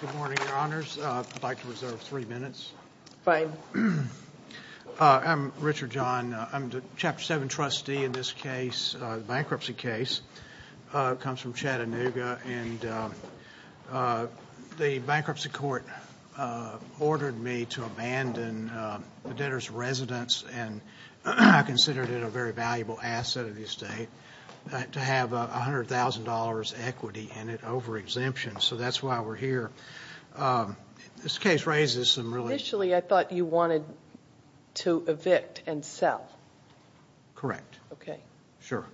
Good morning, Your Honors. I'd like to reserve three minutes. Fine. I'm Richard Jahn. I'm the Chapter 7 trustee in this case, the bankruptcy case. It comes from Chattanooga, and the bankruptcy court ordered me to abandon the debtor's residence, and I considered it a very valuable asset of the estate, to have $100,000 equity in it over exemption. So that's why we're here. This case raises some really – Initially, I thought you wanted to evict and sell. Correct. Okay. Sure.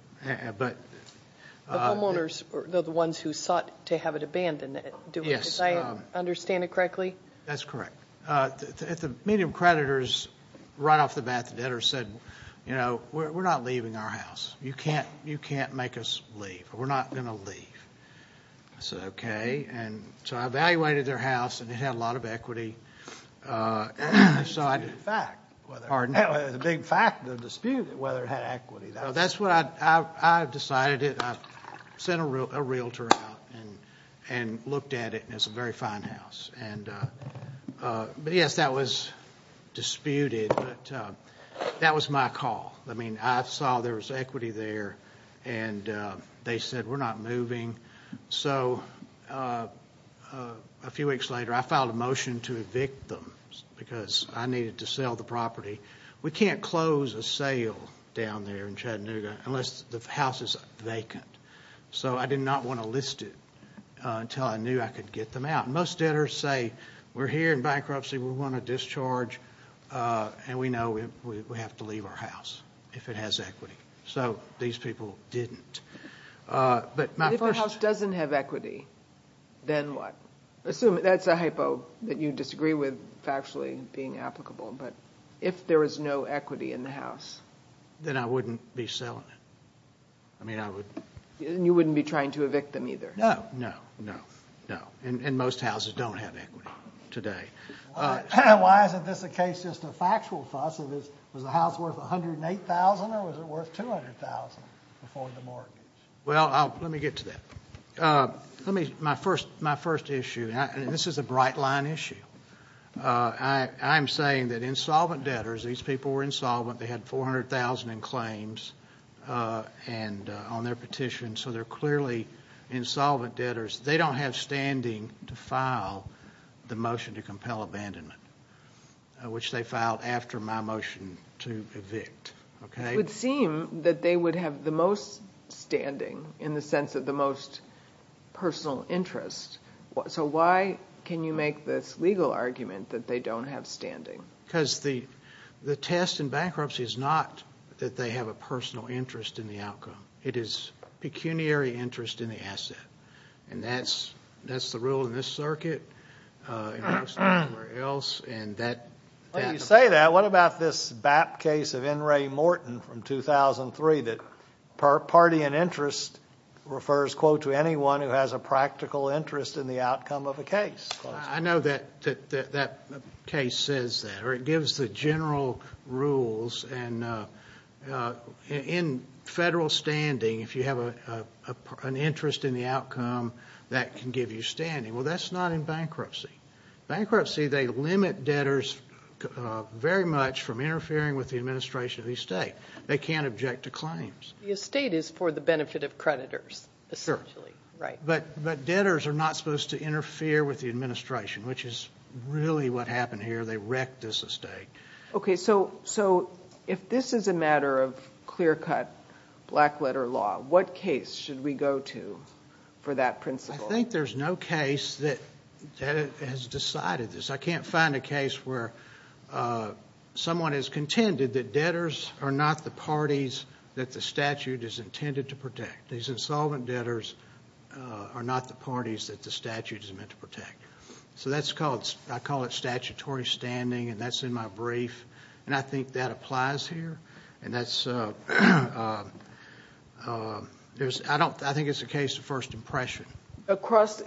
But – The homeowners are the ones who sought to have it abandoned. Yes. Do I understand it correctly? That's correct. The medium creditors, right off the bat, the debtors said, you know, we're not leaving our house. You can't make us leave. We're not going to leave. I said, okay, and so I evaluated their house, and it had a lot of equity. It's a big fact. Pardon? It's a big fact, the dispute, whether it had equity. That's what I decided. I sent a realtor out and looked at it, and it's a very fine house. But, yes, that was disputed, but that was my call. I mean, I saw there was equity there, and they said, we're not moving. So a few weeks later, I filed a motion to evict them because I needed to sell the property. We can't close a sale down there in Chattanooga unless the house is vacant. So I did not want to list it until I knew I could get them out. Most debtors say, we're here in bankruptcy. We want to discharge, and we know we have to leave our house if it has equity. So these people didn't. But if our house doesn't have equity, then what? Assume – that's a hypo that you disagree with factually being applicable. But if there is no equity in the house? Then I wouldn't be selling it. I mean, I would – And you wouldn't be trying to evict them either? No, no, no, no. And most houses don't have equity today. Why isn't this a case just of factual fuss? Was the house worth $108,000, or was it worth $200,000 before the mortgage? Well, let me get to that. Let me – my first issue, and this is a bright-line issue. I am saying that insolvent debtors – these people were insolvent. They had $400,000 in claims on their petition. So they're clearly insolvent debtors. They don't have standing to file the motion to compel abandonment, which they filed after my motion to evict. It would seem that they would have the most standing in the sense of the most personal interest. So why can you make this legal argument that they don't have standing? Because the test in bankruptcy is not that they have a personal interest in the outcome. It is pecuniary interest in the asset. And that's the rule in this circuit. It works everywhere else. And that – Well, you say that. Now, what about this BAP case of N. Ray Morton from 2003 that party and interest refers, quote, to anyone who has a practical interest in the outcome of a case? I know that that case says that, or it gives the general rules. And in federal standing, if you have an interest in the outcome, that can give you standing. Well, that's not in bankruptcy. Bankruptcy, they limit debtors very much from interfering with the administration of the estate. They can't object to claims. The estate is for the benefit of creditors, essentially, right? Sure. But debtors are not supposed to interfere with the administration, which is really what happened here. They wrecked this estate. Okay, so if this is a matter of clear-cut, black-letter law, what case should we go to for that principle? I think there's no case that has decided this. I can't find a case where someone has contended that debtors are not the parties that the statute is intended to protect. These insolvent debtors are not the parties that the statute is meant to protect. So that's called – I call it statutory standing, and that's in my brief. And I think that applies here. And that's – I think it's a case of first impression. Across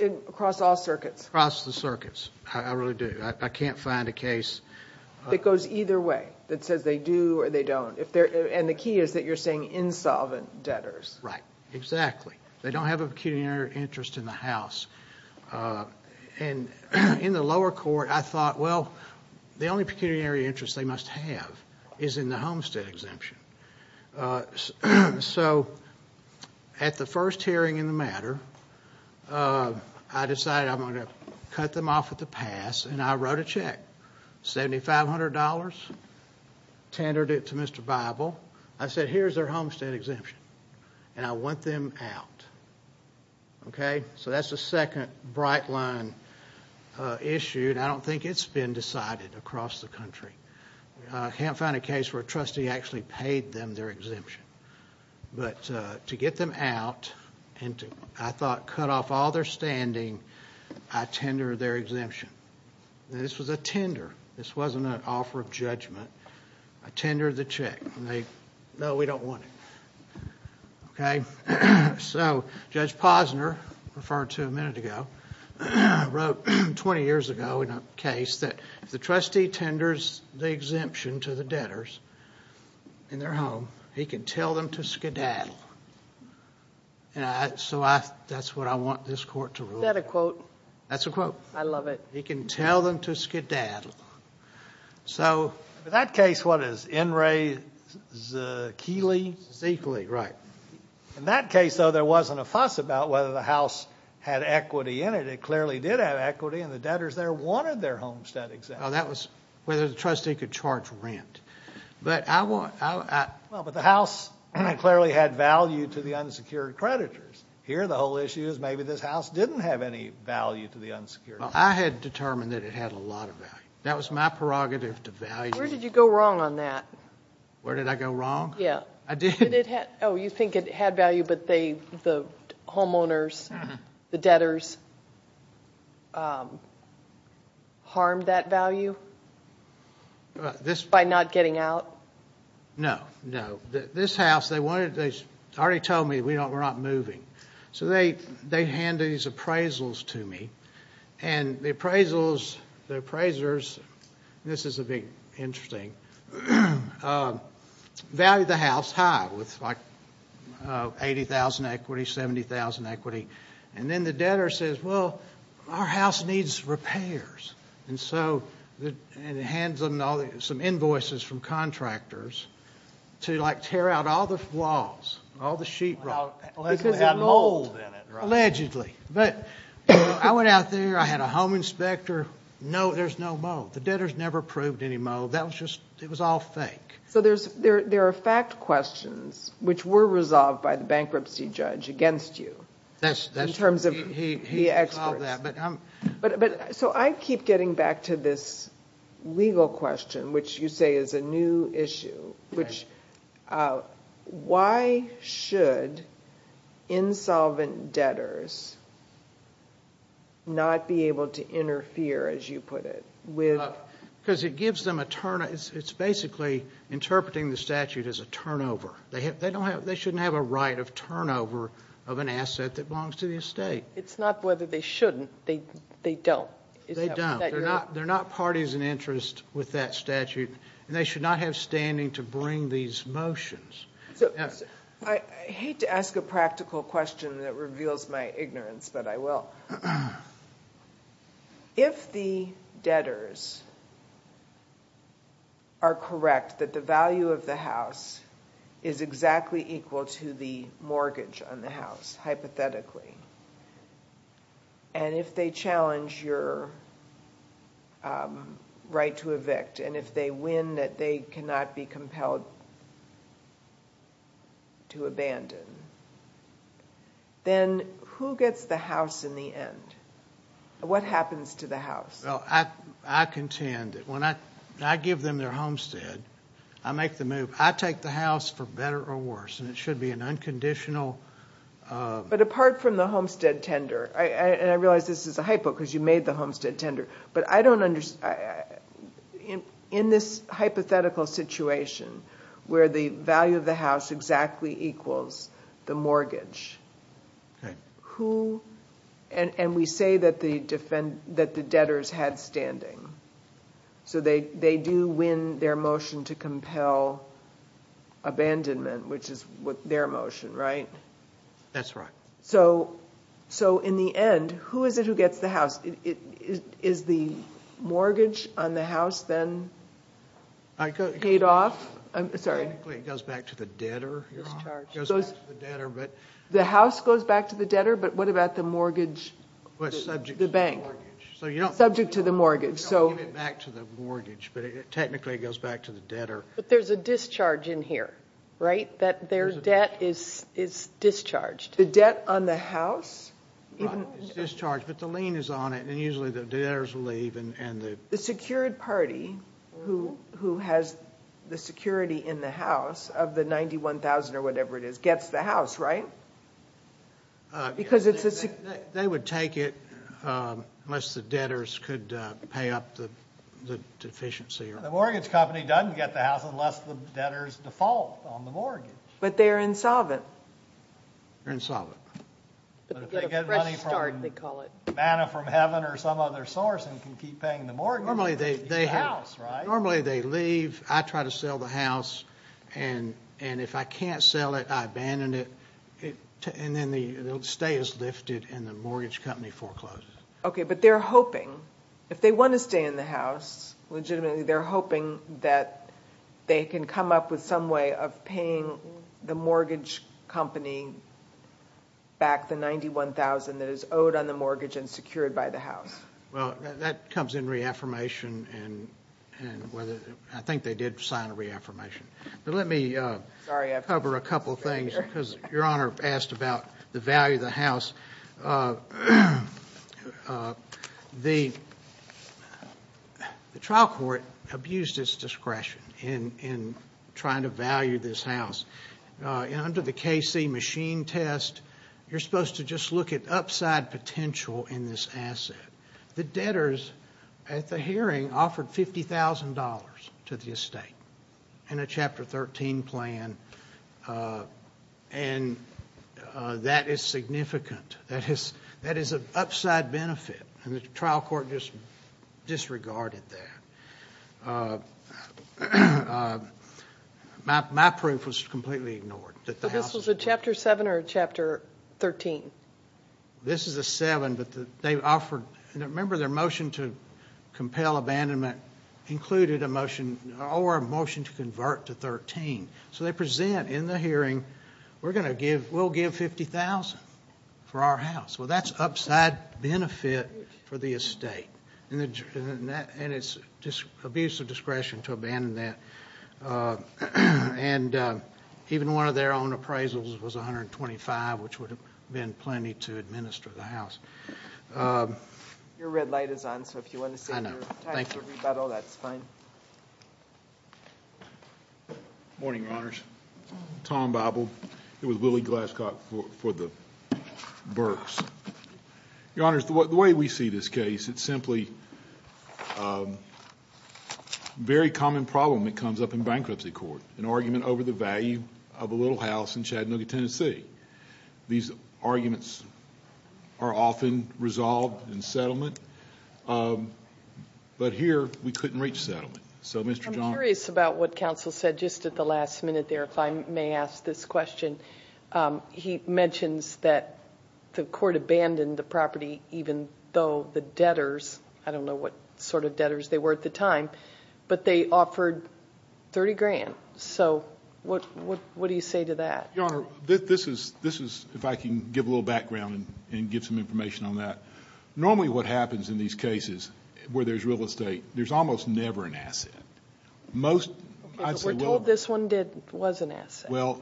all circuits? Across the circuits. I really do. I can't find a case. It goes either way, that says they do or they don't. And the key is that you're saying insolvent debtors. Right, exactly. They don't have a pecuniary interest in the house. And in the lower court, I thought, well, the only pecuniary interest they must have is in the homestead exemption. So at the first hearing in the matter, I decided I'm going to cut them off at the pass, and I wrote a check, $7,500, tendered it to Mr. Bible. I said, here's their homestead exemption, and I want them out. Okay? So that's the second bright line issued. I don't think it's been decided across the country. I can't find a case where a trustee actually paid them their exemption. But to get them out, and to, I thought, cut off all their standing, I tendered their exemption. Now, this was a tender. This wasn't an offer of judgment. I tendered the check, and they, no, we don't want it. Okay? So Judge Posner, referred to a minute ago, wrote 20 years ago in a case that if the trustee tenders the exemption to the debtors in their home, he can tell them to skedaddle. So that's what I want this Court to rule. Is that a quote? That's a quote. I love it. He can tell them to skedaddle. So. In that case, what is it? N. Ray Zichle? Zichle, right. In that case, though, there wasn't a fuss about whether the House had equity in it. It clearly did have equity, and the debtors there wanted their homestead exemption. Oh, that was whether the trustee could charge rent. But I want... Well, but the House clearly had value to the unsecured creditors. Well, I had determined that it had a lot of value. That was my prerogative to value. Where did you go wrong on that? Where did I go wrong? Yeah. I did. Oh, you think it had value, but the homeowners, the debtors harmed that value by not getting out? No, no. This House, they already told me we're not moving. So they handed these appraisals to me. And the appraisers, and this is a bit interesting, valued the House high with, like, 80,000 equity, 70,000 equity. And then the debtor says, well, our House needs repairs. And so he hands them some invoices from contractors to, like, tear out all the flaws, all the sheetrock. Because it had mold in it, right? Allegedly. But I went out there, I had a home inspector. No, there's no mold. The debtors never proved any mold. That was just, it was all fake. So there are fact questions which were resolved by the bankruptcy judge against you. That's true. In terms of the experts. He resolved that. So I keep getting back to this legal question, which you say is a new issue. Which, why should insolvent debtors not be able to interfere, as you put it, with? Because it gives them a turn. It's basically interpreting the statute as a turnover. They shouldn't have a right of turnover of an asset that belongs to the estate. It's not whether they shouldn't. They don't. They don't. They're not parties in interest with that statute. And they should not have standing to bring these motions. I hate to ask a practical question that reveals my ignorance, but I will. If the debtors are correct that the value of the house is exactly equal to the mortgage on the house, hypothetically, and if they challenge your right to evict, and if they win that they cannot be compelled to abandon, then who gets the house in the end? What happens to the house? Well, I contend that when I give them their homestead, I make the move. I take the house for better or worse, and it should be an unconditional. But apart from the homestead tender, and I realize this is a hypo because you made the homestead tender, but in this hypothetical situation where the value of the house exactly equals the mortgage, and we say that the debtors had standing, so they do win their motion to compel abandonment, which is their motion, right? That's right. So in the end, who is it who gets the house? Is the mortgage on the house then paid off? Technically it goes back to the debtor. The house goes back to the debtor, but what about the mortgage, the bank? Subject to the mortgage. So you don't give it back to the mortgage, but technically it goes back to the debtor. But there's a discharge in here, right? That their debt is discharged. The debt on the house? It's discharged, but the lien is on it, and usually the debtors will leave. The secured party who has the security in the house of the $91,000 or whatever it is gets the house, right? Because it's a secured party. They would take it unless the debtors could pay up the deficiency. The mortgage company doesn't get the house unless the debtors default on the mortgage. But they're insolvent. They're insolvent. They get a fresh start, they call it. They get money from manna from heaven or some other source and can keep paying the mortgage. Normally they leave. I try to sell the house, and if I can't sell it, I abandon it, and then the stay is lifted and the mortgage company forecloses. Okay, but they're hoping, if they want to stay in the house legitimately, they're hoping that they can come up with some way of paying the mortgage company back the $91,000 that is owed on the mortgage and secured by the house. Well, that comes in reaffirmation, and I think they did sign a reaffirmation. But let me cover a couple things because Your Honor asked about the value of the house. The trial court abused its discretion in trying to value this house. Under the KC machine test, you're supposed to just look at upside potential in this asset. The debtors at the hearing offered $50,000 to the estate in a Chapter 13 plan, and that is significant. That is an upside benefit, and the trial court just disregarded that. My proof was completely ignored. So this was a Chapter 7 or a Chapter 13? This is a 7, but they offered, and remember their motion to compel abandonment included a motion or a motion to convert to 13. So they present in the hearing, we'll give $50,000 for our house. Well, that's upside benefit for the estate, and it's just abuse of discretion to abandon that. And even one of their own appraisals was $125,000, which would have been plenty to administer the house. Your red light is on, so if you want to say your time for rebuttal, that's fine. Morning, Your Honors. Tom Bible. It was Willie Glasscock for the Burks. Your Honors, the way we see this case, it's simply a very common problem that comes up in bankruptcy court, an argument over the value of a little house in Chattanooga, Tennessee. These arguments are often resolved in settlement, but here we couldn't reach settlement. I'm curious about what counsel said just at the last minute there, if I may ask this question. He mentions that the court abandoned the property even though the debtors, I don't know what sort of debtors they were at the time, but they offered $30,000. So what do you say to that? Your Honor, this is, if I can give a little background and give some information on that. Normally what happens in these cases where there's real estate, there's almost never an asset. Okay, but we're told this one was an asset. Well,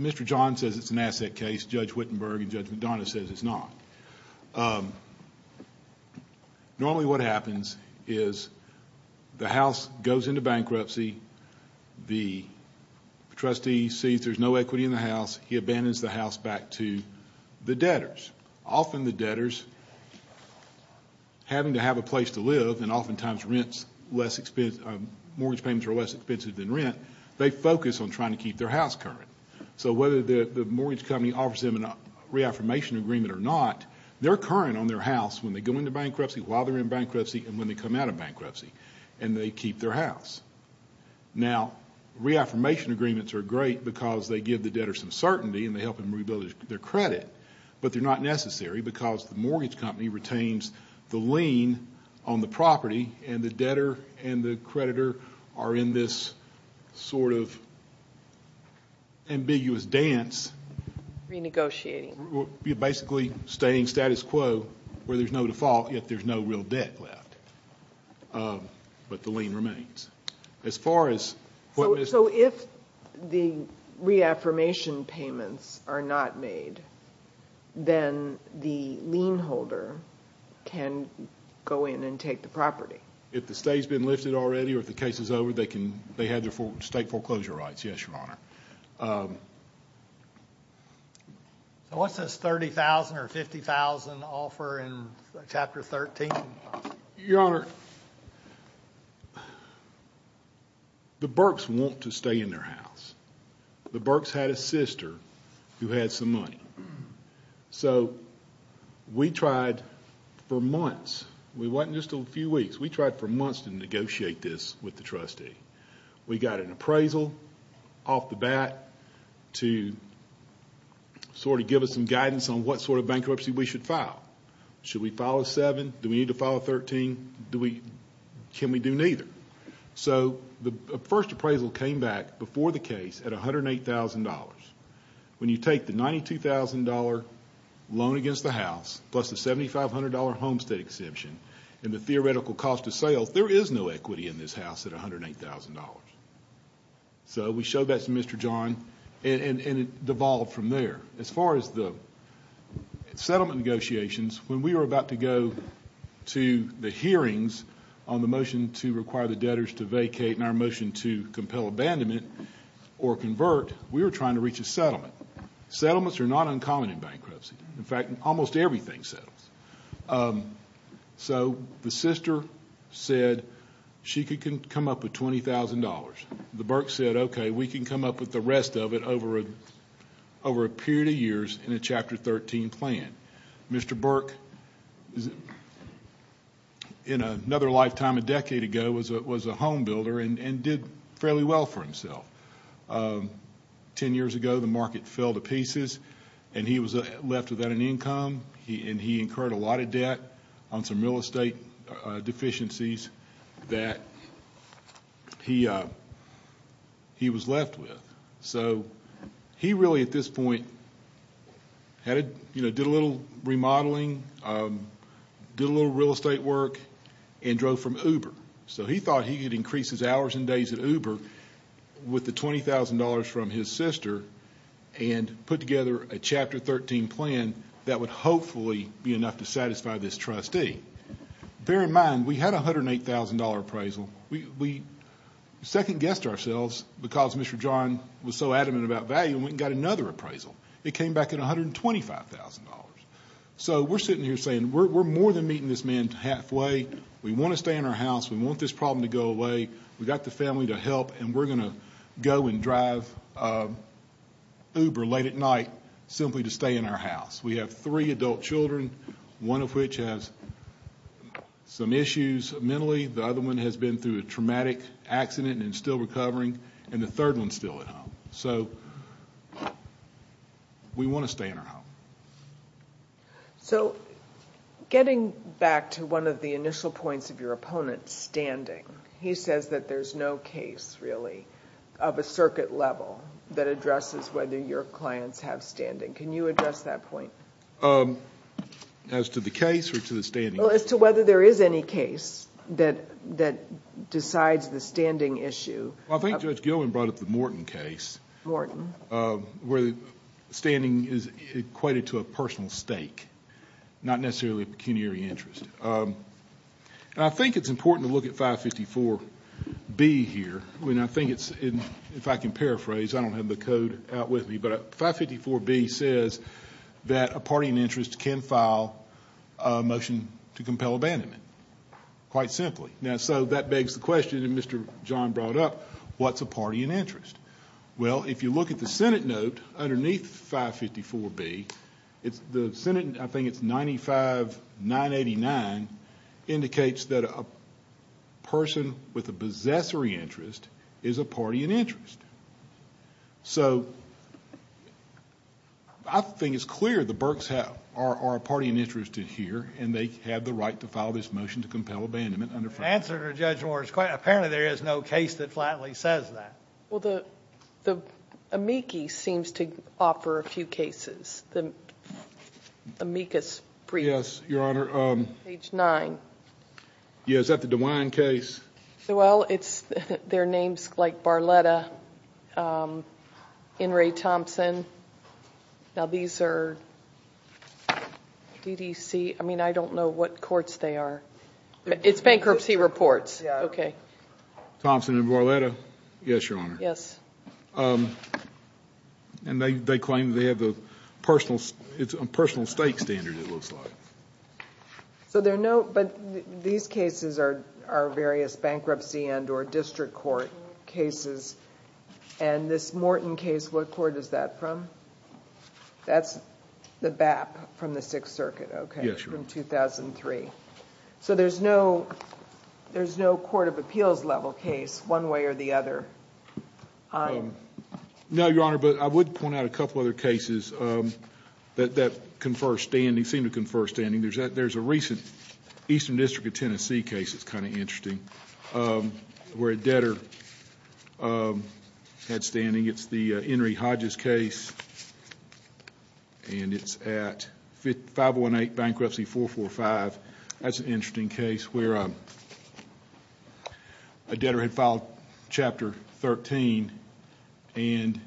Mr. John says it's an asset case, Judge Wittenberg and Judge McDonough says it's not. Normally what happens is the house goes into bankruptcy, the trustee sees there's no equity in the house, he abandons the house back to the debtors. Often the debtors, having to have a place to live, and oftentimes mortgage payments are less expensive than rent, they focus on trying to keep their house current. So whether the mortgage company offers them a reaffirmation agreement or not, they're current on their house when they go into bankruptcy, while they're in bankruptcy, and when they come out of bankruptcy, and they keep their house. Now, reaffirmation agreements are great because they give the debtor some certainty and they help them rebuild their credit, but they're not necessary because the mortgage company retains the lien on the property and the debtor and the creditor are in this sort of ambiguous dance. Renegotiating. Basically staying status quo where there's no default, yet there's no real debt left, but the lien remains. So if the reaffirmation payments are not made, then the lien holder can go in and take the property? If the stay's been lifted already or if the case is over, they have their state foreclosure rights. Yes, Your Honor. So what's this $30,000 or $50,000 offer in Chapter 13? Your Honor, the Burks want to stay in their house. The Burks had a sister who had some money. So we tried for months. We went just a few weeks. We tried for months to negotiate this with the trustee. We got an appraisal off the bat to sort of give us some guidance on what sort of bankruptcy we should file. Should we file a 7? Do we need to file a 13? Can we do neither? So the first appraisal came back before the case at $108,000. When you take the $92,000 loan against the house plus the $7,500 homestead exemption and the theoretical cost of sales, there is no equity in this house at $108,000. So we showed that to Mr. John and it devolved from there. As far as the settlement negotiations, when we were about to go to the hearings on the motion to require the debtors to vacate and our motion to compel abandonment or convert, we were trying to reach a settlement. Settlements are not uncommon in bankruptcy. In fact, almost everything settles. So the sister said she could come up with $20,000. The Burke said, okay, we can come up with the rest of it over a period of years in a Chapter 13 plan. Mr. Burke, in another lifetime a decade ago, was a home builder and did fairly well for himself. Ten years ago, the market fell to pieces and he was left without an income and he incurred a lot of debt on some real estate deficiencies that he was left with. So he really, at this point, did a little remodeling, did a little real estate work, and drove from Uber. So he thought he could increase his hours and days at Uber with the $20,000 from his sister and put together a Chapter 13 plan that would hopefully be enough to satisfy this trustee. Bear in mind, we had a $108,000 appraisal. We second-guessed ourselves because Mr. John was so adamant about value and we got another appraisal. It came back at $125,000. So we're sitting here saying, we're more than meeting this man halfway. We want to stay in our house. We want this problem to go away. We've got the family to help and we're going to go and drive Uber late at night simply to stay in our house. We have three adult children, one of which has some issues mentally, the other one has been through a traumatic accident and is still recovering, and the third one is still at home. So we want to stay in our home. So getting back to one of the initial points of your opponent's standing, he says that there's no case really of a circuit level that addresses whether your clients have standing. Can you address that point? As to the case or to the standing issue? Well, as to whether there is any case that decides the standing issue. Well, I think Judge Gilman brought up the Morton case. Morton. Where the standing is equated to a personal stake, not necessarily a pecuniary interest. I think it's important to look at 554B here. I think it's, if I can paraphrase, I don't have the code out with me, but 554B says that a party in interest can file a motion to compel abandonment, quite simply. Now, so that begs the question that Mr. John brought up, what's a party in interest? Well, if you look at the Senate note underneath 554B, the Senate, I think it's 95-989, indicates that a person with a possessory interest is a party in interest. So I think it's clear the Burks are a party in interest here, and they have the right to file this motion to compel abandonment. The answer to Judge Moore is apparently there is no case that flatly says that. Well, the amici seems to offer a few cases. The amicus brief. Yes, Your Honor. Page 9. Yeah, is that the DeWine case? Well, it's, their names like Barletta, Enri Thompson. Now, these are DDC, I mean, I don't know what courts they are. It's bankruptcy reports. Yeah. Okay. Thompson and Barletta? Yes, Your Honor. Yes. And they claim they have the personal, it's a personal stake standard, it looks like. So there are no, but these cases are various bankruptcy and or district court cases. And this Morton case, what court is that from? That's the BAP from the Sixth Circuit, okay? Yes, Your Honor. From 2003. So there's no, there's no court of appeals level case one way or the other. No, Your Honor, but I would point out a couple other cases that confer standing, seem to confer standing. There's a recent Eastern District of Tennessee case that's kind of interesting where a debtor had standing. It's the Enri Hodges case. And it's at 518 Bankruptcy 445. That's an interesting case where a debtor had filed Chapter 13 and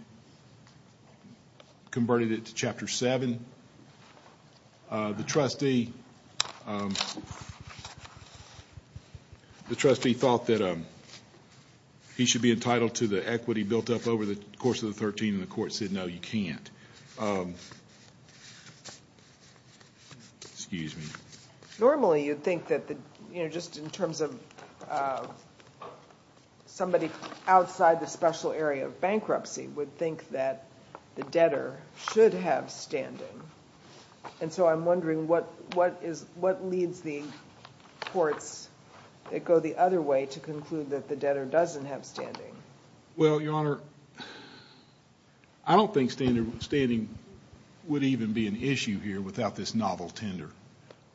converted it to Chapter 7. The trustee, the trustee thought that he should be entitled to the equity built up over the course of the 13 and the court said, no, you can't. Excuse me. Normally you'd think that just in terms of somebody outside the special area of bankruptcy would think that the debtor should have standing. And so I'm wondering what leads the courts that go the other way to conclude that the debtor doesn't have standing. Well, Your Honor, I don't think standing would even be an issue here without this novel tender.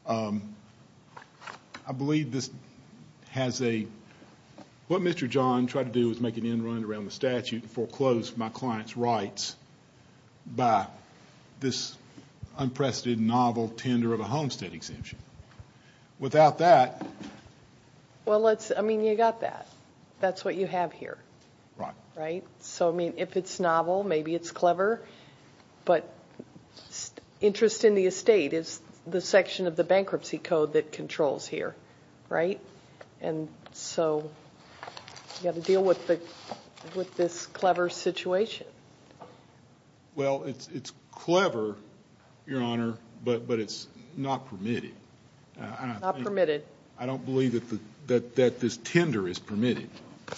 I believe this has a, what Mr. John tried to do was make an end run around the statute and foreclose my client's rights by this unprecedented novel tender of a homestead exemption. Without that. Well, let's, I mean, you got that. That's what you have here. Right. So, I mean, if it's novel, maybe it's clever, but interest in the estate is the section of the bankruptcy code that controls here, right? And so you got to deal with this clever situation. Well, it's clever, Your Honor, but it's not permitted. Not permitted. I don't believe that this tender is permitted.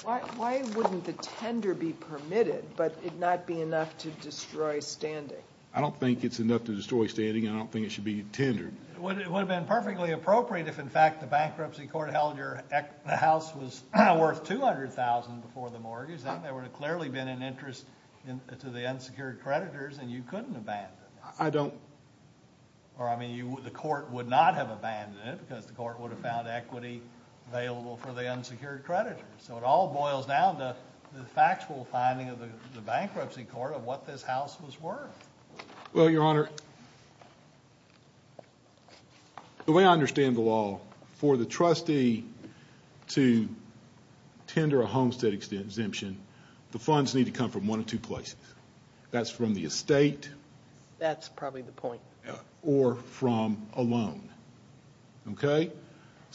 Why wouldn't the tender be permitted, but it not be enough to destroy standing? I don't think it's enough to destroy standing. I don't think it should be tendered. It would have been perfectly appropriate if, in fact, the bankruptcy court held your house was worth $200,000 before the mortgage. There would have clearly been an interest to the unsecured creditors, and you couldn't abandon it. I don't. Or, I mean, the court would not have abandoned it because the court would have found equity available for the unsecured creditors. So it all boils down to the factual finding of the bankruptcy court of what this house was worth. Well, Your Honor, the way I understand the law, for the trustee to tender a homestead exemption, the funds need to come from one of two places. That's from the estate. That's probably the point. Or from a loan. Okay?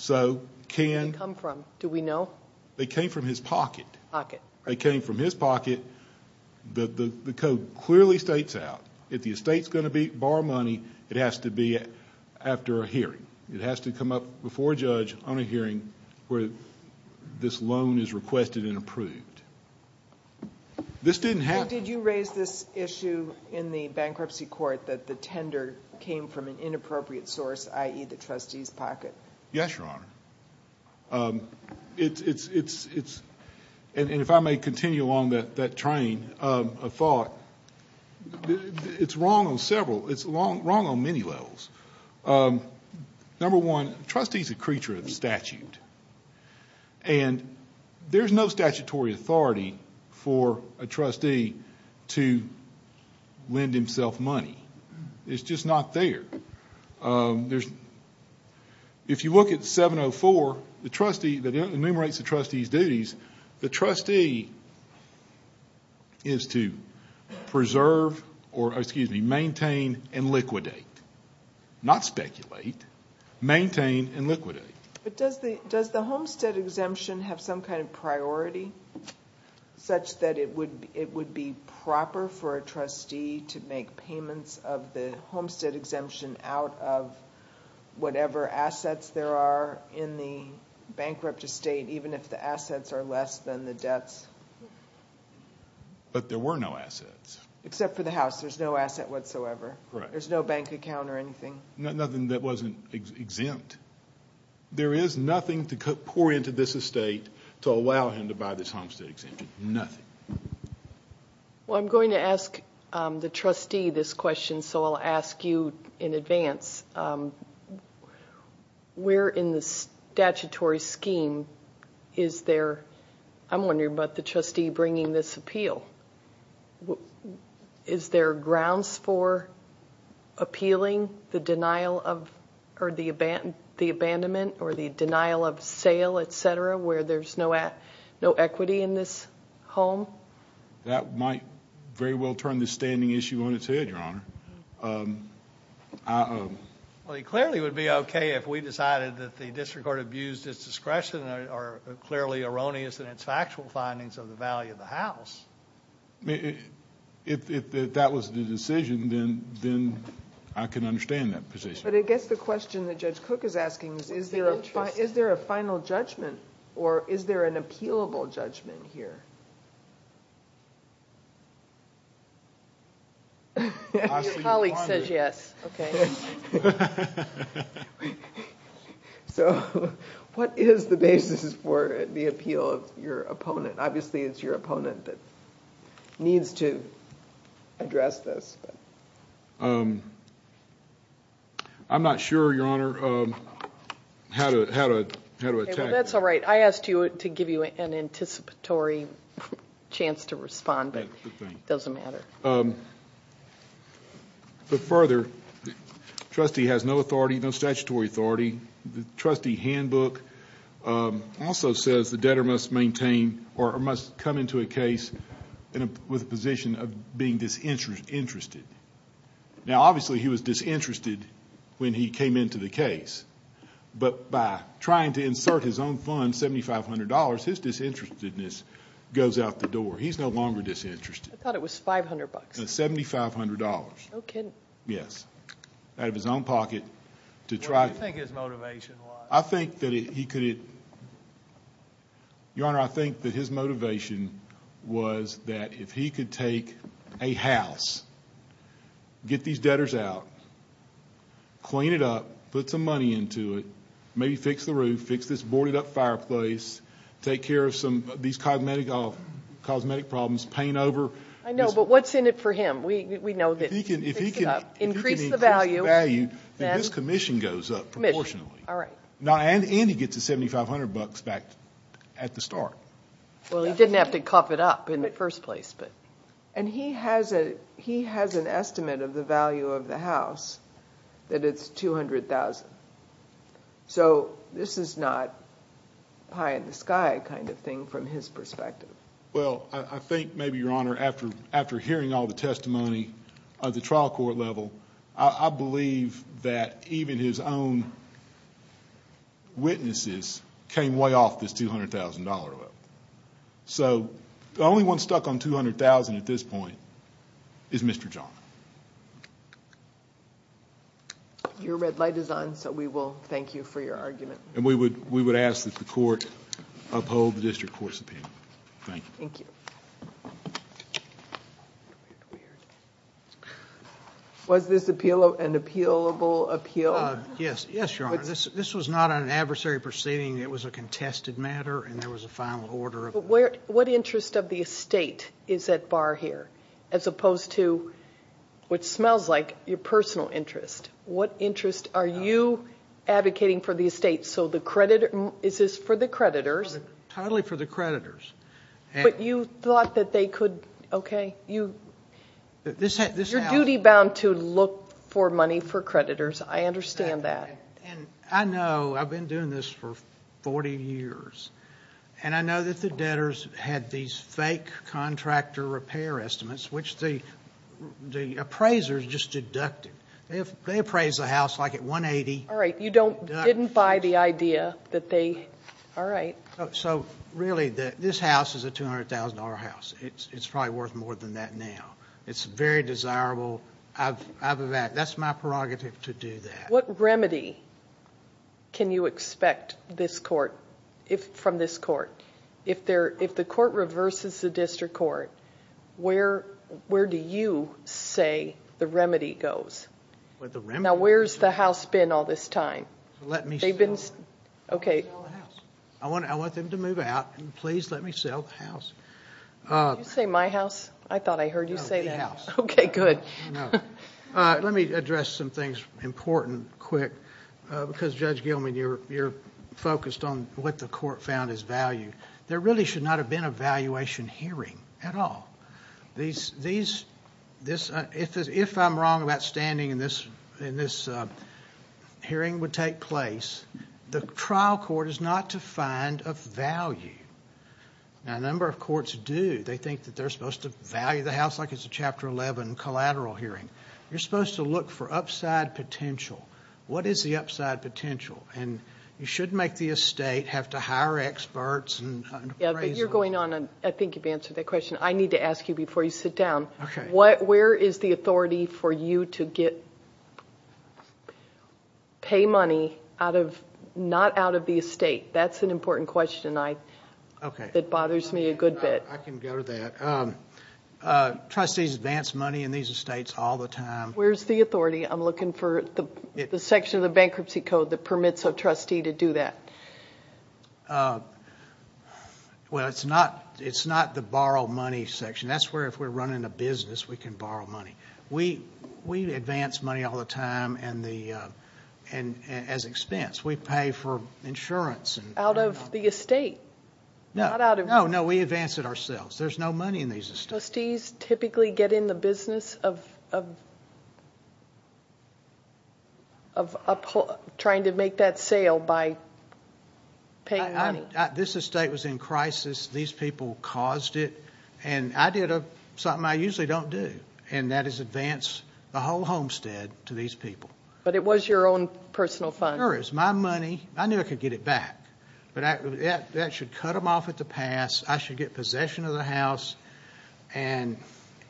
Where did they come from? Do we know? They came from his pocket. Pocket. They came from his pocket. The code clearly states out if the estate is going to borrow money, it has to be after a hearing. It has to come up before a judge on a hearing where this loan is requested and approved. This didn't happen. Judge, did you raise this issue in the bankruptcy court that the tender came from an inappropriate source, i.e., the trustee's pocket? Yes, Your Honor. It's, and if I may continue along that train of thought, it's wrong on several, it's wrong on many levels. And there's no statutory authority for a trustee to lend himself money. It's just not there. If you look at 704, the trustee that enumerates the trustee's duties, the trustee is to preserve or, excuse me, maintain and liquidate. Not speculate. Maintain and liquidate. But does the homestead exemption have some kind of priority such that it would be proper for a trustee to make payments of the homestead exemption out of whatever assets there are in the bankrupt estate, even if the assets are less than the debts? But there were no assets. Except for the house. There's no asset whatsoever. Correct. There's no bank account or anything. Nothing that wasn't exempt. There is nothing to pour into this estate to allow him to buy this homestead exemption. Nothing. Well, I'm going to ask the trustee this question, so I'll ask you in advance. Where in the statutory scheme is there, I'm wondering about the trustee bringing this appeal, is there grounds for appealing the denial of or the abandonment or the denial of sale, et cetera, where there's no equity in this home? That might very well turn this standing issue on its head, Your Honor. It clearly would be okay if we decided that the district court abused its discretion and are clearly erroneous in its factual findings of the value of the house. If that was the decision, then I can understand that position. But I guess the question that Judge Cook is asking is, is there a final judgment or is there an appealable judgment here? Your colleague says yes. Okay. So what is the basis for the appeal of your opponent? Obviously, it's your opponent that needs to address this. I'm not sure, Your Honor, how to attack that. That's all right. I asked to give you an anticipatory chance to respond, but it doesn't matter. But further, the trustee has no authority, no statutory authority. The trustee handbook also says the debtor must maintain or must come into a case with a position of being disinterested. Now, obviously, he was disinterested when he came into the case, but by trying to insert his own fund, $7,500, his disinterestedness goes out the door. He's no longer disinterested. I thought it was $500. It's $7,500. No kidding. Yes. Out of his own pocket. What do you think his motivation was? Your Honor, I think that his motivation was that if he could take a house, get these debtors out, clean it up, put some money into it, maybe fix the roof, fix this boarded-up fireplace, take care of these cosmetic problems, paint over. I know, but what's in it for him? We know that if he can increase the value, then this commission goes up proportionally. And he gets the $7,500 back at the start. Well, he didn't have to cough it up in the first place. And he has an estimate of the value of the house that it's $200,000. So this is not pie-in-the-sky kind of thing from his perspective. Well, I think maybe, Your Honor, after hearing all the testimony at the trial court level, I believe that even his own witnesses came way off this $200,000 level. So the only one stuck on $200,000 at this point is Mr. John. Your red light is on, so we will thank you for your argument. And we would ask that the court uphold the district court's opinion. Thank you. Thank you. Was this an appealable appeal? Yes, Your Honor. This was not an adversary proceeding. It was a contested matter, and there was a final order. What interest of the estate is at bar here, as opposed to what smells like your personal interest? What interest are you advocating for the estate? So is this for the creditors? Totally for the creditors. But you thought that they could, okay. You're duty-bound to look for money for creditors. I understand that. I know. I've been doing this for 40 years. And I know that the debtors had these fake contractor repair estimates, which the appraisers just deducted. They appraised the house, like, at $180,000. All right. You didn't buy the idea that they, all right. So, really, this house is a $200,000 house. It's probably worth more than that now. It's very desirable. That's my prerogative to do that. What remedy can you expect from this court? If the court reverses the district court, where do you say the remedy goes? Now, where's the house been all this time? Let me sell it. Okay. I want them to move out, and please let me sell the house. Did you say my house? I thought I heard you say that. No, the house. Okay, good. Let me address some things important, quick, because, Judge Gilman, you're focused on what the court found is value. There really should not have been a valuation hearing at all. If I'm wrong about standing and this hearing would take place, the trial court is not defined of value. Now, a number of courts do. They think that they're supposed to value the house like it's a Chapter 11 collateral hearing. You're supposed to look for upside potential. What is the upside potential? And you shouldn't make the estate have to hire experts. Yeah, but you're going on. I think you've answered that question. I need to ask you before you sit down. Okay. Where is the authority for you to pay money not out of the estate? That's an important question that bothers me a good bit. I can go to that. Trustees advance money in these estates all the time. Where's the authority? I'm looking for the section of the bankruptcy code that permits a trustee to do that. Well, it's not the borrow money section. That's where, if we're running a business, we can borrow money. We advance money all the time as expense. We pay for insurance. Out of the estate? No. Oh, no, we advance it ourselves. There's no money in these estates. Trustees typically get in the business of trying to make that sale by paying money. This estate was in crisis. These people caused it. And I did something I usually don't do, and that is advance the whole homestead to these people. But it was your own personal fund. Sure, it was my money. I knew I could get it back. But that should cut them off at the pass. I should get possession of the house. And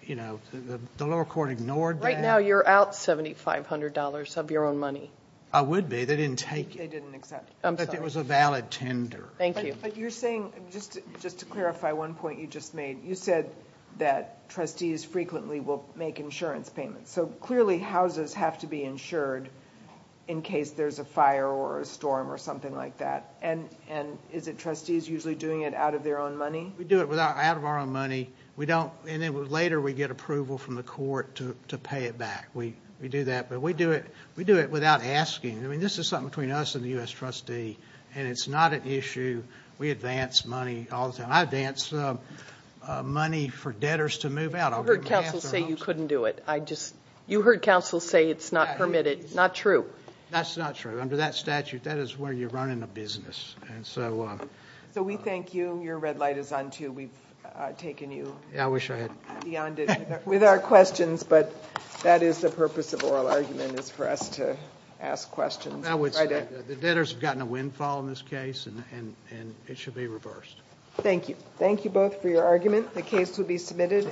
the lower court ignored that. Right now you're out $7,500 of your own money. I would be. They didn't take it. They didn't accept it. I'm sorry. But it was a valid tender. Thank you. But you're saying, just to clarify one point you just made, you said that trustees frequently will make insurance payments. So clearly houses have to be insured in case there's a fire or a storm or something like that. And is it trustees usually doing it out of their own money? We do it out of our own money. And then later we get approval from the court to pay it back. We do that. But we do it without asking. I mean, this is something between us and the U.S. trustee, and it's not an issue. We advance money all the time. I advance money for debtors to move out. I heard counsel say you couldn't do it. You heard counsel say it's not permitted. Not true. That's not true. Under that statute, that is where you're running a business. So we thank you. Your red light is on, too. We've taken you beyond it with our questions, but that is the purpose of oral argument is for us to ask questions. The debtors have gotten a windfall in this case, and it should be reversed. Thank you. Thank you both for your argument. The case will be submitted.